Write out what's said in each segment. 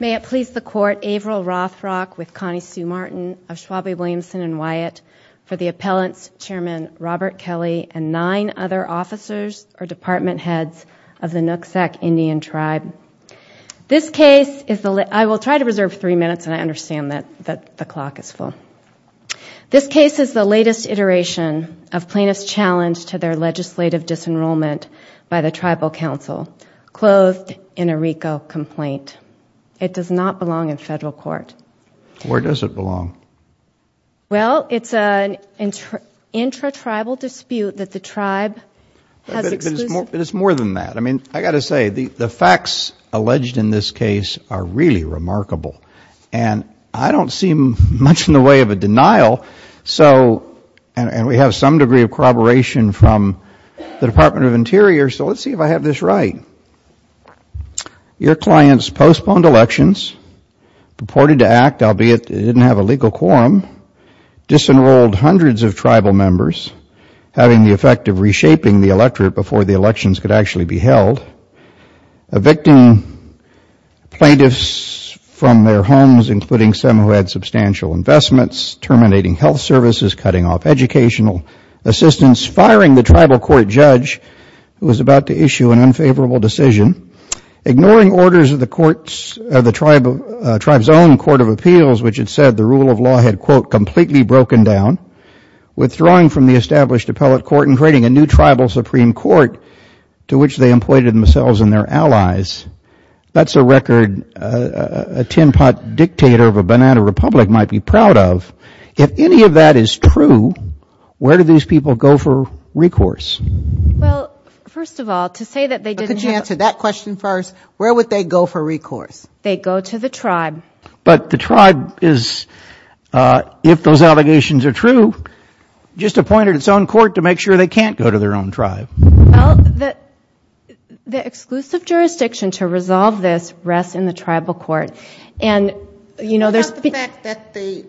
May it please the Court, Averill Rothrock with Connie Sue Martin of Schwabe Williamson and Wyatt for the appellants, Chairman Robert Kelly and nine other officers or department heads of the Nooksack Indian Tribe. This case is the latest iteration of plaintiffs' challenge to their legislative disenrollment by the Tribal Council, clothed in a RICO complaint. It does not belong in federal court. Where does it belong? Well, it's an intra-tribal dispute that the tribe has exclusive... But it's more than that. I mean, I've got to say, the facts alleged in this case are really remarkable. And I don't see much in the way of a denial, so, and we have some degree of corroboration from the Department of Interior, so let's see if I have this right. Your clients postponed elections, purported to act, albeit they didn't have a legal quorum, disenrolled hundreds of tribal members, having the effect of reshaping the electorate before the elections could actually be held, evicting plaintiffs from their homes, including some who had substantial investments, terminating health services, cutting off educational assistance, firing the tribal court judge who was about to issue an unfavorable decision, ignoring orders of the tribe's own Court of Appeals, which had said the rule of law had, quote, completely broken down, withdrawing from the established appellate court and creating a new tribal supreme court to which they employed themselves and their allies. That's a record a tin-pot dictator of a banana republic might be proud of. If any of that is true, where do these people go for recourse? Well, first of all, to say that they didn't have... Could you answer that question first? Where would they go for recourse? They go to the tribe. But the tribe is, if those allegations are true, just appointed its own court to make sure they can't go to their own tribe. Well, the exclusive jurisdiction to resolve this rests in the tribal court, and, you know... And the fact that the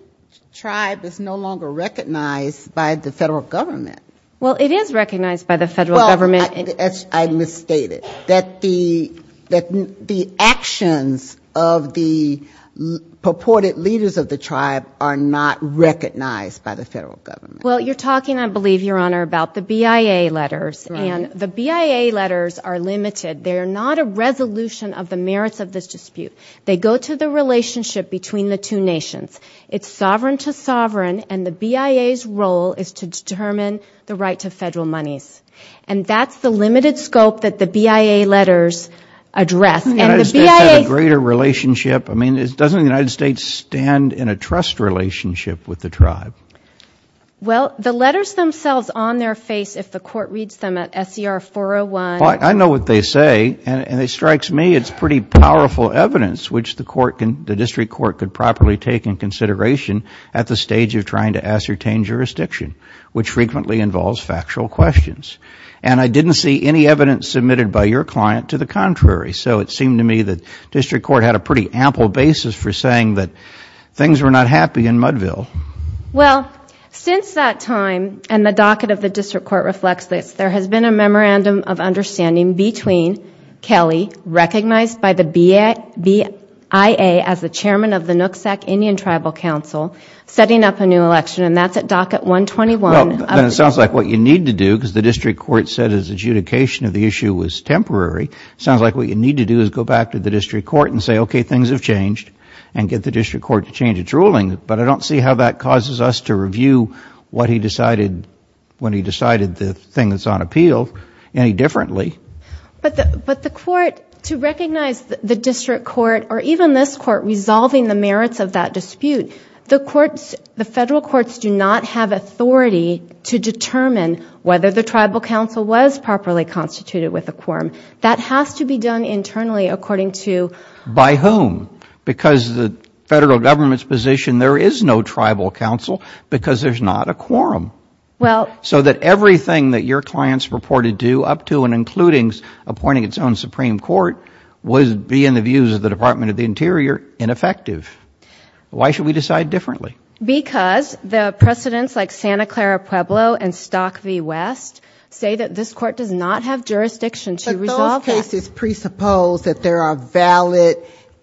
tribe is no longer recognized by the federal government. Well, it is recognized by the federal government. Well, I misstated. That the actions of the purported leaders of the tribe are not recognized by the federal government. Well, you're talking, I believe, Your Honor, about the BIA letters. And the BIA letters are limited. They're not a resolution of the merits of this dispute. They go to the relationship between the two nations. It's sovereign to sovereign, and the BIA's role is to determine the right to federal monies. And that's the limited scope that the BIA letters address. And the BIA... Doesn't the United States have a greater relationship? I mean, doesn't the United States stand in a trust relationship with the tribe? Well, the letters themselves, on their face, if the court reads them at SCR 401... Well, I know what they say, and it strikes me it's pretty powerful evidence which the district court could properly take in consideration at the stage of trying to ascertain jurisdiction, which frequently involves factual questions. And I didn't see any evidence submitted by your client to the contrary. So it seemed to me that district court had a pretty ample basis for saying that things were not happy in Mudville. Well, since that time, and the docket of the district court reflects this, there has been a memorandum of understanding between Kelly, recognized by the BIA as the chairman of the Nooksack Indian Tribal Council, setting up a new election. And that's at docket 121. Well, then it sounds like what you need to do, because the district court said its adjudication of the issue was temporary, sounds like what you need to do is go back to the district court and say, okay, things have changed, and get the district court to change its ruling. But I don't see how that causes us to review what he decided when he decided the thing that's on appeal any differently. But the court, to recognize the district court, or even this court, resolving the merits of that dispute, the courts, the federal courts do not have authority to determine whether the tribal council was properly constituted with a quorum. That has to be done internally according to By whom? Because the federal government's position, there is no tribal council, because there's not a quorum. So that everything that your clients purported to do, up to and including appointing its own Supreme Court, would be, in the views of the Department of the Interior, ineffective. Why should we decide differently? Because the precedents like Santa Clara Pueblo and Stock v. West say that this court does not have jurisdiction to resolve that. But those cases presuppose that there are valid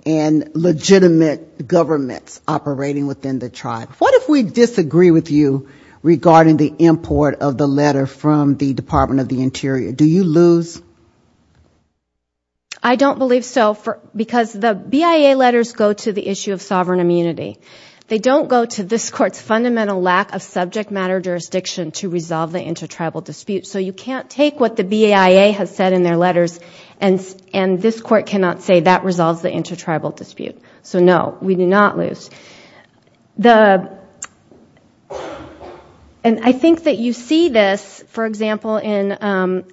and legitimate governments operating within the tribe. What if we disagree with you regarding the import of the letter from the Department of the Interior? Do you lose? I don't believe so, because the BIA letters go to the issue of sovereign immunity. They don't go to this court's fundamental lack of subject matter jurisdiction to resolve the intertribal dispute. So you can't take what the BIA has said in their letters, and this court cannot say that resolves the intertribal dispute. So no, we do not lose. And I think that you see this, for example, in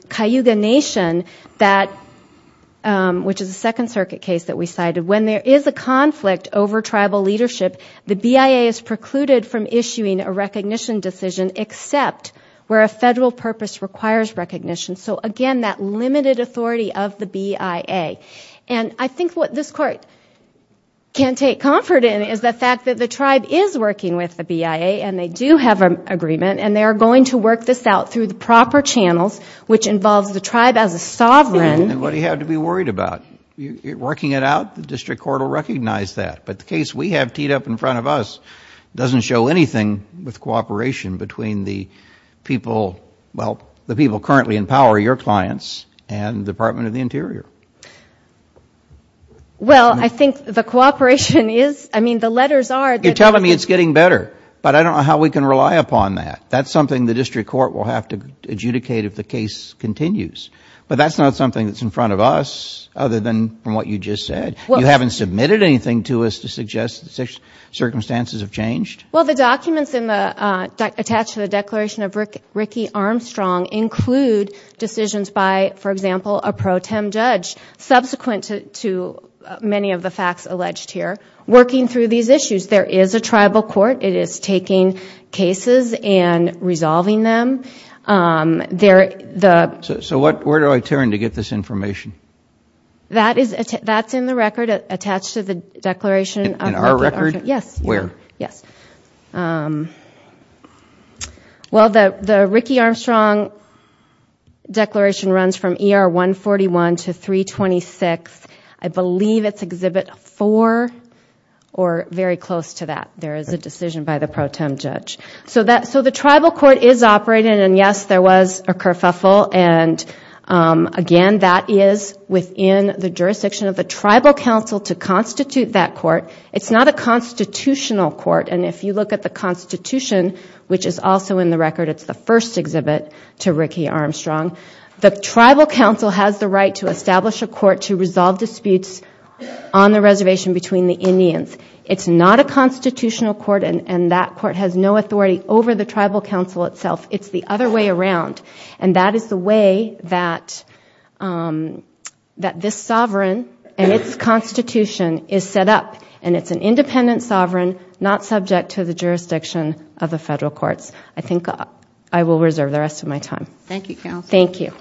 Cayuga Nation, which is a Second Circuit case that we cited. When there is a conflict over tribal leadership, the BIA is precluded from issuing a recognition decision except where a federal purpose requires recognition. So again, that limited authority of the BIA. I think what this court can take comfort in is the fact that the tribe is working with the BIA, and they do have an agreement, and they are going to work this out through the proper channels, which involves the tribe as a sovereign. Then what do you have to be worried about? Working it out? The district court will recognize that. But the case we have teed up in front of us doesn't show anything with cooperation between the people, well, the people currently in power, your clients, and the Department of the Interior. Well, I think the cooperation is, I mean, the letters are. You're telling me it's getting better. But I don't know how we can rely upon that. That's something the district court will have to adjudicate if the case continues. But that's not something that's in front of us, other than from what you just said. You haven't submitted anything to us to suggest the circumstances have changed? Well, the documents attached to the Declaration of Ricky Armstrong include decisions by, for example, a pro tem judge, subsequent to many of the facts alleged here, working through these issues. There is a tribal court. It is taking cases and resolving them. So where do I turn to get this information? That's in the record attached to the Declaration of Ricky Armstrong. In our record? Yes. Where? Yes. Well, the Ricky Armstrong Declaration runs from ER 141 to 326. I believe it's Exhibit 4 or very close to that. There is a decision by the pro tem judge. So the tribal court is operating, and yes, there was a kerfuffle. And again, that is within the jurisdiction of the tribal council to constitute that court. It's not a constitutional court. And if you look at the Constitution, which is also in the record, it's the first exhibit to Ricky Armstrong, the tribal council has the right to establish a court to resolve disputes on the reservation between the Indians. It's not a constitutional court, and that court has no authority over the tribal council itself. It's the other way around. And that is the way that this sovereign and its constitution is set up. And it's an independent sovereign, not subject to the jurisdiction of the federal courts. I think I will reserve the rest of my time. Thank you. Thank you.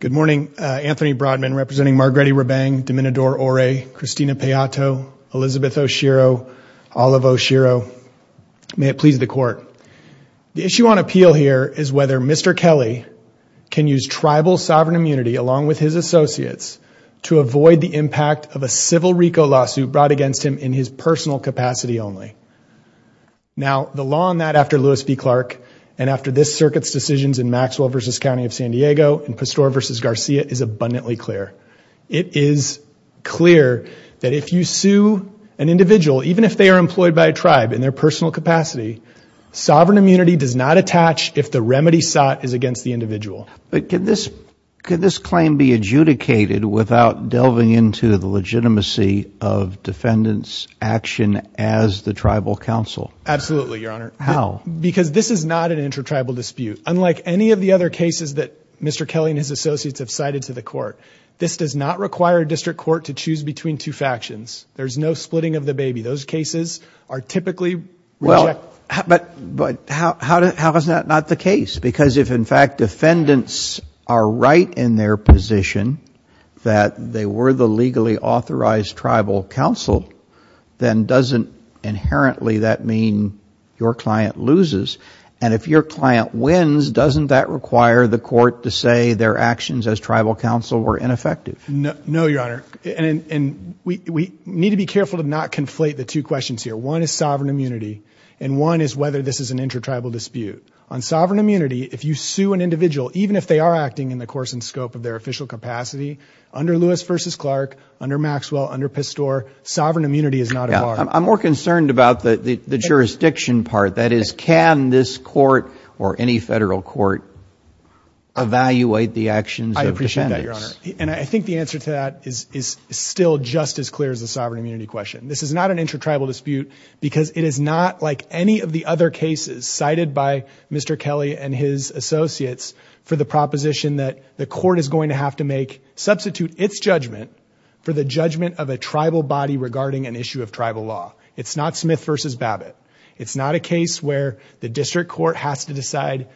Good morning. Anthony Broadman representing Margretti Rebang, Domenador Ore, Christina Payato, Elizabeth Oshiro, Olive Oshiro. May it please the court. The issue on appeal here is whether Mr. Kelly can use tribal sovereign immunity along with his associates to avoid the impact of a civil RICO lawsuit brought against him in his personal capacity only. Now the law on that after Lewis v. Clark and after this circuit's decisions in Maxwell v. County of San Diego and Pastore v. Garcia is abundantly clear. It is clear that if you sue an individual, even if they are employed by a tribe in their personal capacity, sovereign immunity does not attach if the remedy sought is against the individual. But could this could this claim be adjudicated without delving into the legitimacy of defendants action as the tribal council? Absolutely, Your Honor. How? Because this is not an intertribal dispute, unlike any of the other cases that Mr. Kelly and his associates have cited to the court. This does not require a district court to choose between two factions. There's no splitting of the baby. Those cases are typically rejected. But how is that not the case? Because if in fact defendants are right in their position that they were the legally authorized tribal council, then doesn't inherently that mean your client loses? And if your client wins, doesn't that require the court to say their actions as tribal council were ineffective? No, Your Honor. And we need to be careful to not conflate the two questions here. One is sovereign immunity and one is whether this is an intertribal dispute. On sovereign immunity, if you sue an individual, even if they are acting in the course and scope of their official capacity under Lewis v. Clark, under Maxwell, under Pastore, sovereign immunity is not a bar. I'm more concerned about the jurisdiction part. That is, can this court or any federal court evaluate the actions of defendants? I appreciate that, Your Honor. And I think the answer to that is still just as clear as the sovereign immunity question. This is not an intertribal dispute because it is not like any of the other cases cited by Mr. Kelly and his associates for the proposition that the court is going to have to make substitute its judgment for the judgment of a tribal body regarding an issue of tribal law. It's not Smith v. Babbitt. It's not a case where the district court has to decide,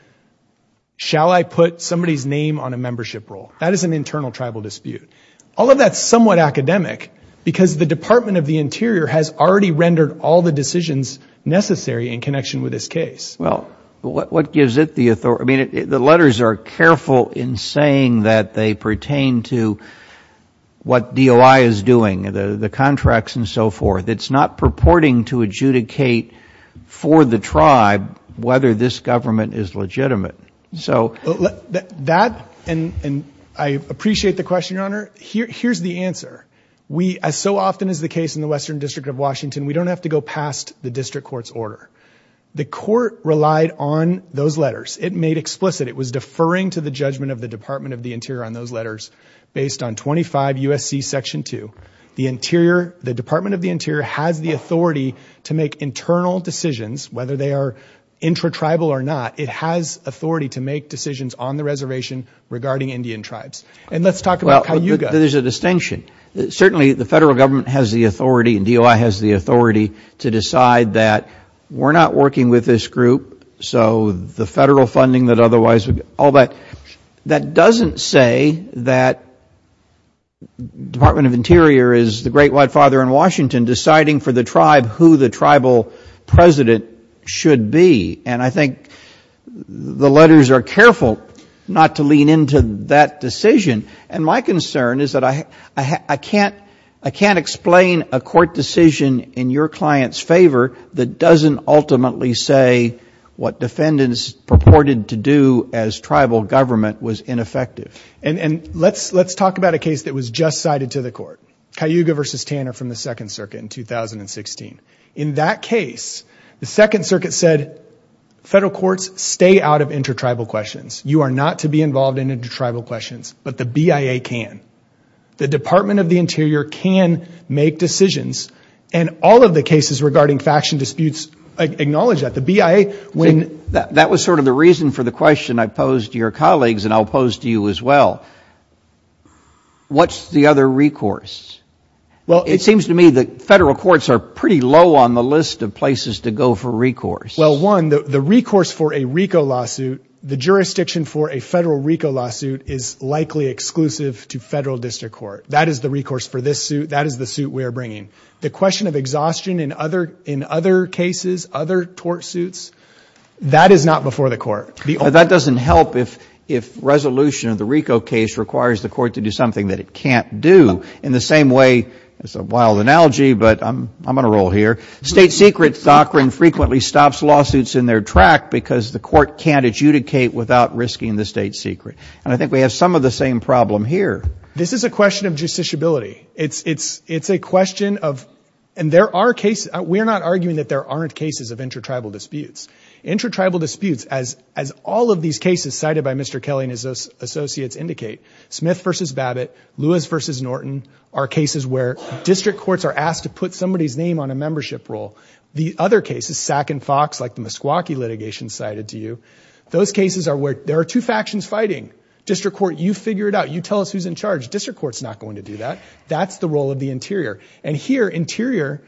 shall I put somebody's name on a membership role? That is an internal tribal dispute. All of that is somewhat academic because the Department of the Interior has already rendered all the decisions necessary in connection with this case. Well, what gives it the authority? The letters are careful in saying that they pertain to what DOI is doing, the contracts and so forth. It's not purporting to adjudicate for the tribe whether this government is legitimate. So that, and I appreciate the question, Your Honor. Here's the answer. We, as so often is the case in the Western District of Washington, we don't have to go past the district court's order. The court relied on those letters. It made explicit, it was deferring to the judgment of the Department of the Interior on those letters based on 25 U.S.C. The Interior, the Department of the Interior has the authority to make internal decisions whether they are intra-tribal or not. It has authority to make decisions on the reservation regarding Indian tribes. And let's talk about Cayuga. Well, there's a distinction. Certainly the federal government has the authority and DOI has the authority to decide that we're not working with this group. So the federal funding that otherwise would, all that, that doesn't say that Department of Interior is the great white father in Washington deciding for the tribe who the tribal president should be. And I think the letters are careful not to lean into that decision. And my concern is that I can't explain a court decision in your client's favor that doesn't ultimately say what defendants purported to do as tribal government was ineffective. And let's talk about a case that was just cited to the court, Cayuga v. Tanner from the Second Circuit in 2016. In that case, the Second Circuit said federal courts stay out of intra-tribal questions. You are not to be involved in intra-tribal questions, but the BIA can. The Department of the Interior can make decisions and all of the cases regarding faction disputes acknowledge that. The BIA, when... That was sort of the reason for the question I posed to your colleagues and I'll pose to you as well. What's the other recourse? It seems to me that federal courts are pretty low on the list of places to go for recourse. Well, one, the recourse for a RICO lawsuit, the jurisdiction for a federal RICO lawsuit is likely exclusive to federal district court. That is the recourse for this suit. That is the suit we are bringing. The question of exhaustion in other cases, other tort suits, that is not before the court. That doesn't help if resolution of the RICO case requires the court to do something that it can't do. In the same way, it's a wild analogy, but I'm going to roll here, state secret doctrine frequently stops lawsuits in their track because the court can't adjudicate without risking the state secret. And I think we have some of the same problem here. This is a question of justiciability. It's a question of, and there are cases, we're not arguing that there aren't cases of intra-tribal disputes. Intra-tribal disputes, as all of these cases cited by Mr. Kelly and his associates indicate, Smith v. Babbitt, Lewis v. Norton are cases where district courts are asked to put somebody's name on a membership role. The other cases, Sack and Fox, like the Meskwaki litigation cited to you, those cases are where there are two factions fighting. District court, you figure it out. You tell us who's in charge. District court's not going to do that. That's the role of the interior. And here, interior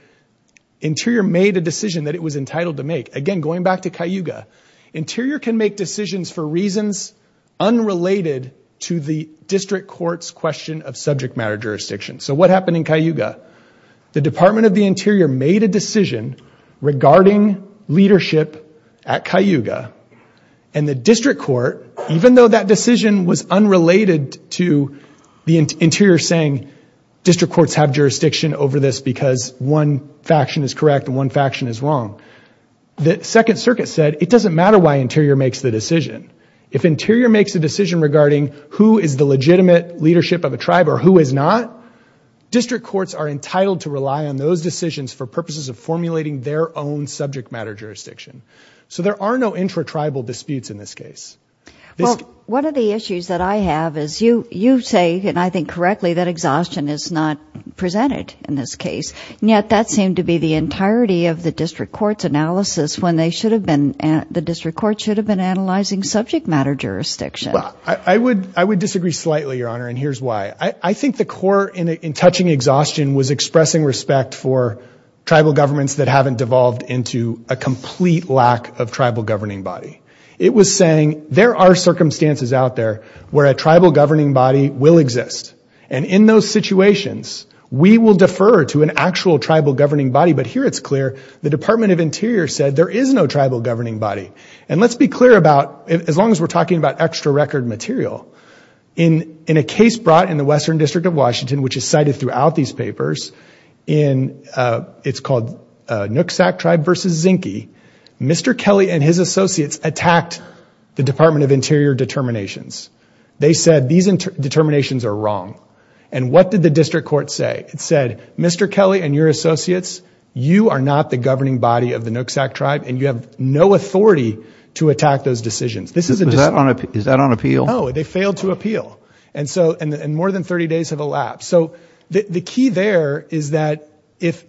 made a decision that it was entitled to make. Again, going back to Cayuga, interior can make decisions for reasons unrelated to the district court's question of subject matter jurisdiction. So what happened in Cayuga? The Department of the Interior made a decision regarding leadership at Cayuga. And the district court, even though that decision was unrelated to the interior saying district courts have jurisdiction over this because one faction is correct and one faction is wrong, the Second Circuit said it doesn't matter why interior makes the decision. If interior makes a decision regarding who is the legitimate leadership of a tribe or who is not, district courts are entitled to rely on those decisions for purposes of formulating their own subject matter jurisdiction. So there are no intra-tribal disputes in this case. Well, one of the issues that I have is you say, and I think correctly, that exhaustion is not presented in this case, and yet that seemed to be the entirety of the district court's analysis when the district court should have been analyzing subject matter jurisdiction. I would disagree slightly, Your Honor, and here's why. I think the core in touching exhaustion was expressing respect for tribal governments that haven't devolved into a complete lack of tribal governing body. It was saying there are circumstances out there where a tribal governing body will exist. And in those situations, we will defer to an actual tribal governing body. But here it's clear the Department of Interior said there is no tribal governing body. And let's be clear about, as long as we're talking about extra record material, in a case brought in the Western District of Washington, which is cited throughout these papers, it's called Nooksack Tribe v. Zinke, Mr. Kelly and his associates attacked the Department of Interior determinations. They said these determinations are wrong. And what did the district court say? It said, Mr. Kelly and your associates, you are not the governing body of the Nooksack Tribe and you have no authority to attack those decisions. This is a... Is that on appeal? No, they failed to appeal. And more than 30 days have elapsed. So the key there is that if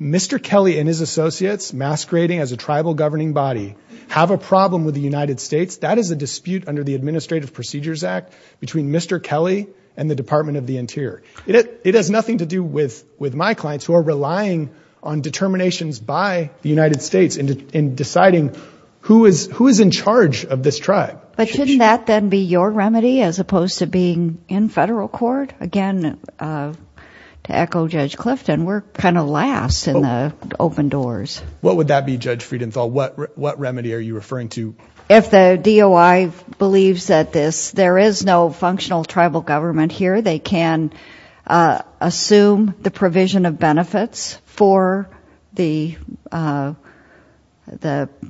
Mr. Kelly and his associates masquerading as a tribal governing body have a problem with the United States, that is a dispute under the Administrative Procedures Act between Mr. Kelly and the Department of the Interior. It has nothing to do with my clients who are relying on determinations by the United States in deciding who is in charge of this tribe. But shouldn't that then be your remedy as opposed to being in federal court? Again, to echo Judge Clifton, we're kind of last in the open doors. What would that be, Judge Friedenthal? What remedy are you referring to? If the DOI believes that there is no functional tribal government here, they can assume the provision of benefits for the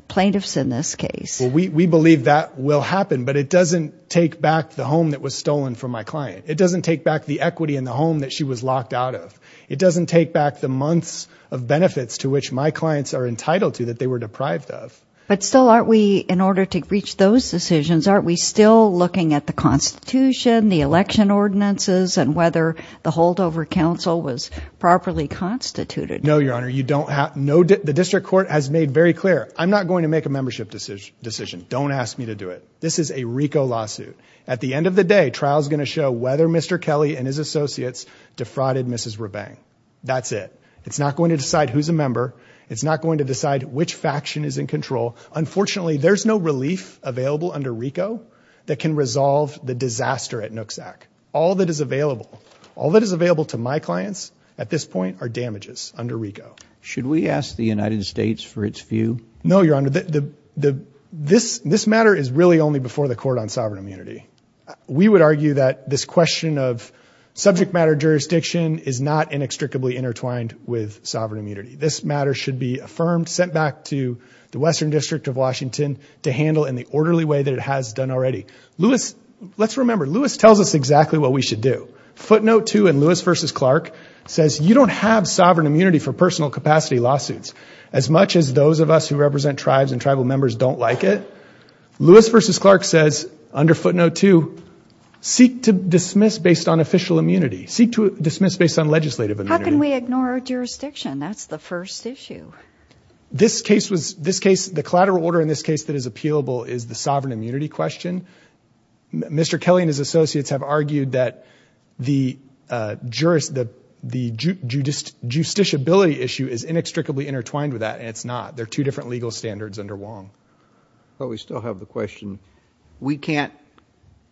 plaintiffs in this case. We believe that will happen, but it doesn't take back the home that was stolen from my It doesn't take back the equity in the home that she was locked out of. It doesn't take back the months of benefits to which my clients are entitled to that they were deprived of. But still, aren't we, in order to reach those decisions, aren't we still looking at the Constitution, the election ordinances, and whether the holdover counsel was properly constituted? No, Your Honor. The District Court has made very clear, I'm not going to make a membership decision. Don't ask me to do it. This is a RICO lawsuit. At the end of the day, trial is going to show whether Mr. Kelly and his associates defrauded Mrs. Rabang. That's it. It's not going to decide who's a member. It's not going to decide which faction is in control. Unfortunately, there's no relief available under RICO that can resolve the disaster at Nooksack. All that is available, all that is available to my clients at this point are damages under Should we ask the United States for its view? No, Your Honor. Your Honor, this matter is really only before the court on sovereign immunity. We would argue that this question of subject matter jurisdiction is not inextricably intertwined with sovereign immunity. This matter should be affirmed, sent back to the Western District of Washington to handle in the orderly way that it has done already. Lewis, let's remember, Lewis tells us exactly what we should do. Footnote two in Lewis v. Clark says, you don't have sovereign immunity for personal capacity As much as those of us who represent tribes and tribal members don't like it, Lewis v. Clark says under footnote two, seek to dismiss based on official immunity. Seek to dismiss based on legislative immunity. How can we ignore our jurisdiction? That's the first issue. This case was, this case, the collateral order in this case that is appealable is the sovereign immunity question. Mr. Kelly and his associates have argued that the jurisdiction, the justiciability issue is inextricably intertwined with that, and it's not. They're two different legal standards under Wong. But we still have the question. We can't,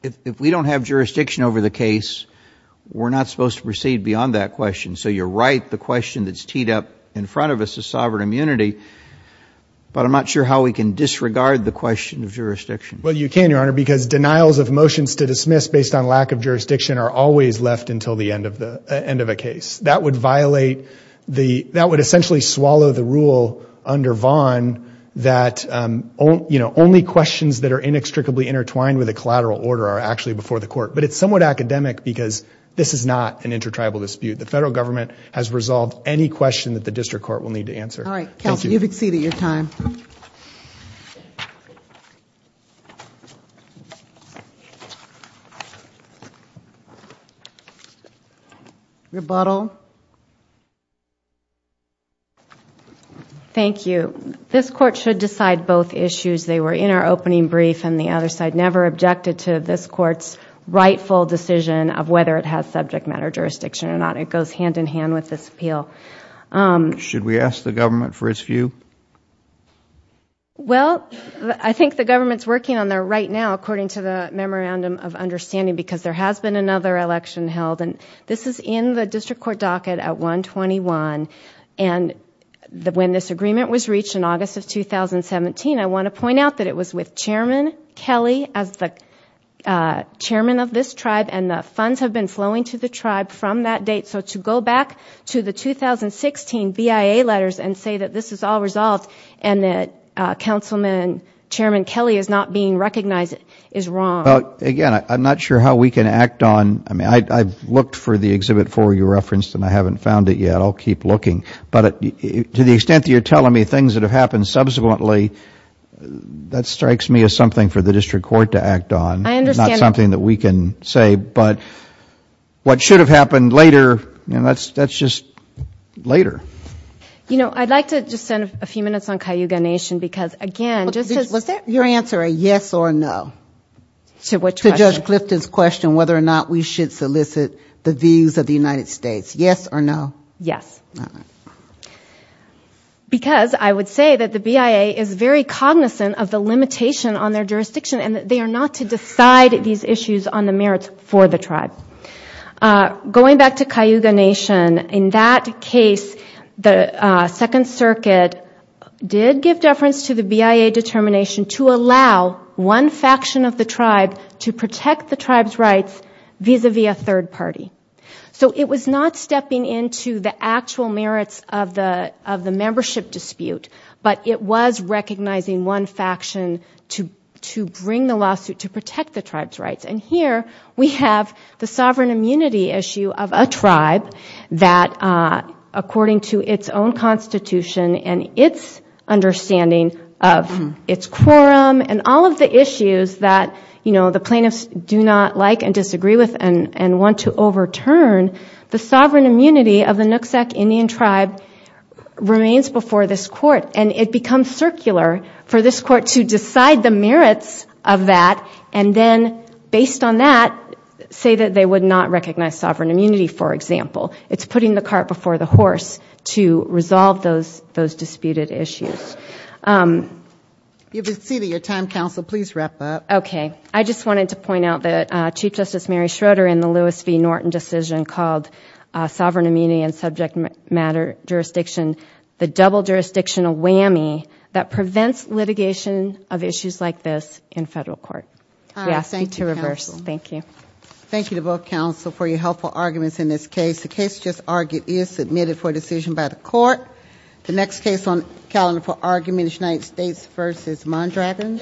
if we don't have jurisdiction over the case, we're not supposed to proceed beyond that question. So you're right, the question that's teed up in front of us is sovereign immunity. But I'm not sure how we can disregard the question of jurisdiction. Well, you can, Your Honor, because denials of motions to dismiss based on lack of jurisdiction are always left until the end of a case. That would violate the, that would essentially swallow the rule under Vaughn that only questions that are inextricably intertwined with a collateral order are actually before the court. But it's somewhat academic because this is not an intertribal dispute. The federal government has resolved any question that the district court will need to answer. All right. Kelsey, you've exceeded your time. Rebuttal. Thank you. This court should decide both issues. They were in our opening brief, and the other side never objected to this court's rightful decision of whether it has subject matter jurisdiction or not. It goes hand in hand with this appeal. Should we ask the government for its view? Well, I think the government's working on their right now, according to the memorandum of understanding, because there has been another election held. And this is in the district court docket at 121. And when this agreement was reached in August of 2017, I want to point out that it was with Chairman Kelly as the chairman of this tribe, and the funds have been flowing to the tribe from that date. So to go back to the 2016 BIA letters and say that this is all resolved and that Councilman and Chairman Kelly is not being recognized is wrong. Well, again, I'm not sure how we can act on, I mean, I've looked for the Exhibit 4 you referenced and I haven't found it yet. I'll keep looking. But to the extent that you're telling me things that have happened subsequently, that strikes me as something for the district court to act on. I understand. That's something that we can say, but what should have happened later, that's just later. You know, I'd like to just spend a few minutes on Cayuga Nation because, again, just as Was your answer a yes or a no? To which question? To Judge Clifton's question whether or not we should solicit the views of the United States. Yes or no? Yes. All right. Because I would say that the BIA is very cognizant of the limitation on their jurisdiction and they are not to decide these issues on the merits for the tribe. Going back to Cayuga Nation, in that case, the Second Circuit did give deference to the BIA determination to allow one faction of the tribe to protect the tribe's rights vis-à-vis a third party. So it was not stepping into the actual merits of the membership dispute, but it was recognizing one faction to bring the lawsuit to protect the tribe's rights. And here we have the sovereign immunity issue of a tribe that, according to its own constitution and its understanding of its quorum and all of the issues that, you know, the plaintiffs do not like and disagree with and want to overturn, the sovereign immunity of the Nooksack for this court to decide the merits of that and then, based on that, say that they would not recognize sovereign immunity, for example. It's putting the cart before the horse to resolve those disputed issues. If you have exceeded your time, counsel, please wrap up. Okay. I just wanted to point out that Chief Justice Mary Schroeder in the Lewis v. Norton decision called sovereign immunity and subject matter jurisdiction the double jurisdictional whammy that prevents litigation of issues like this in federal court. All right. Thank you, counsel. We ask you to reverse. Thank you. Thank you to both counsel for your helpful arguments in this case. The case just argued is submitted for decision by the court. The next case on the calendar for argument is United States v. Mondragon.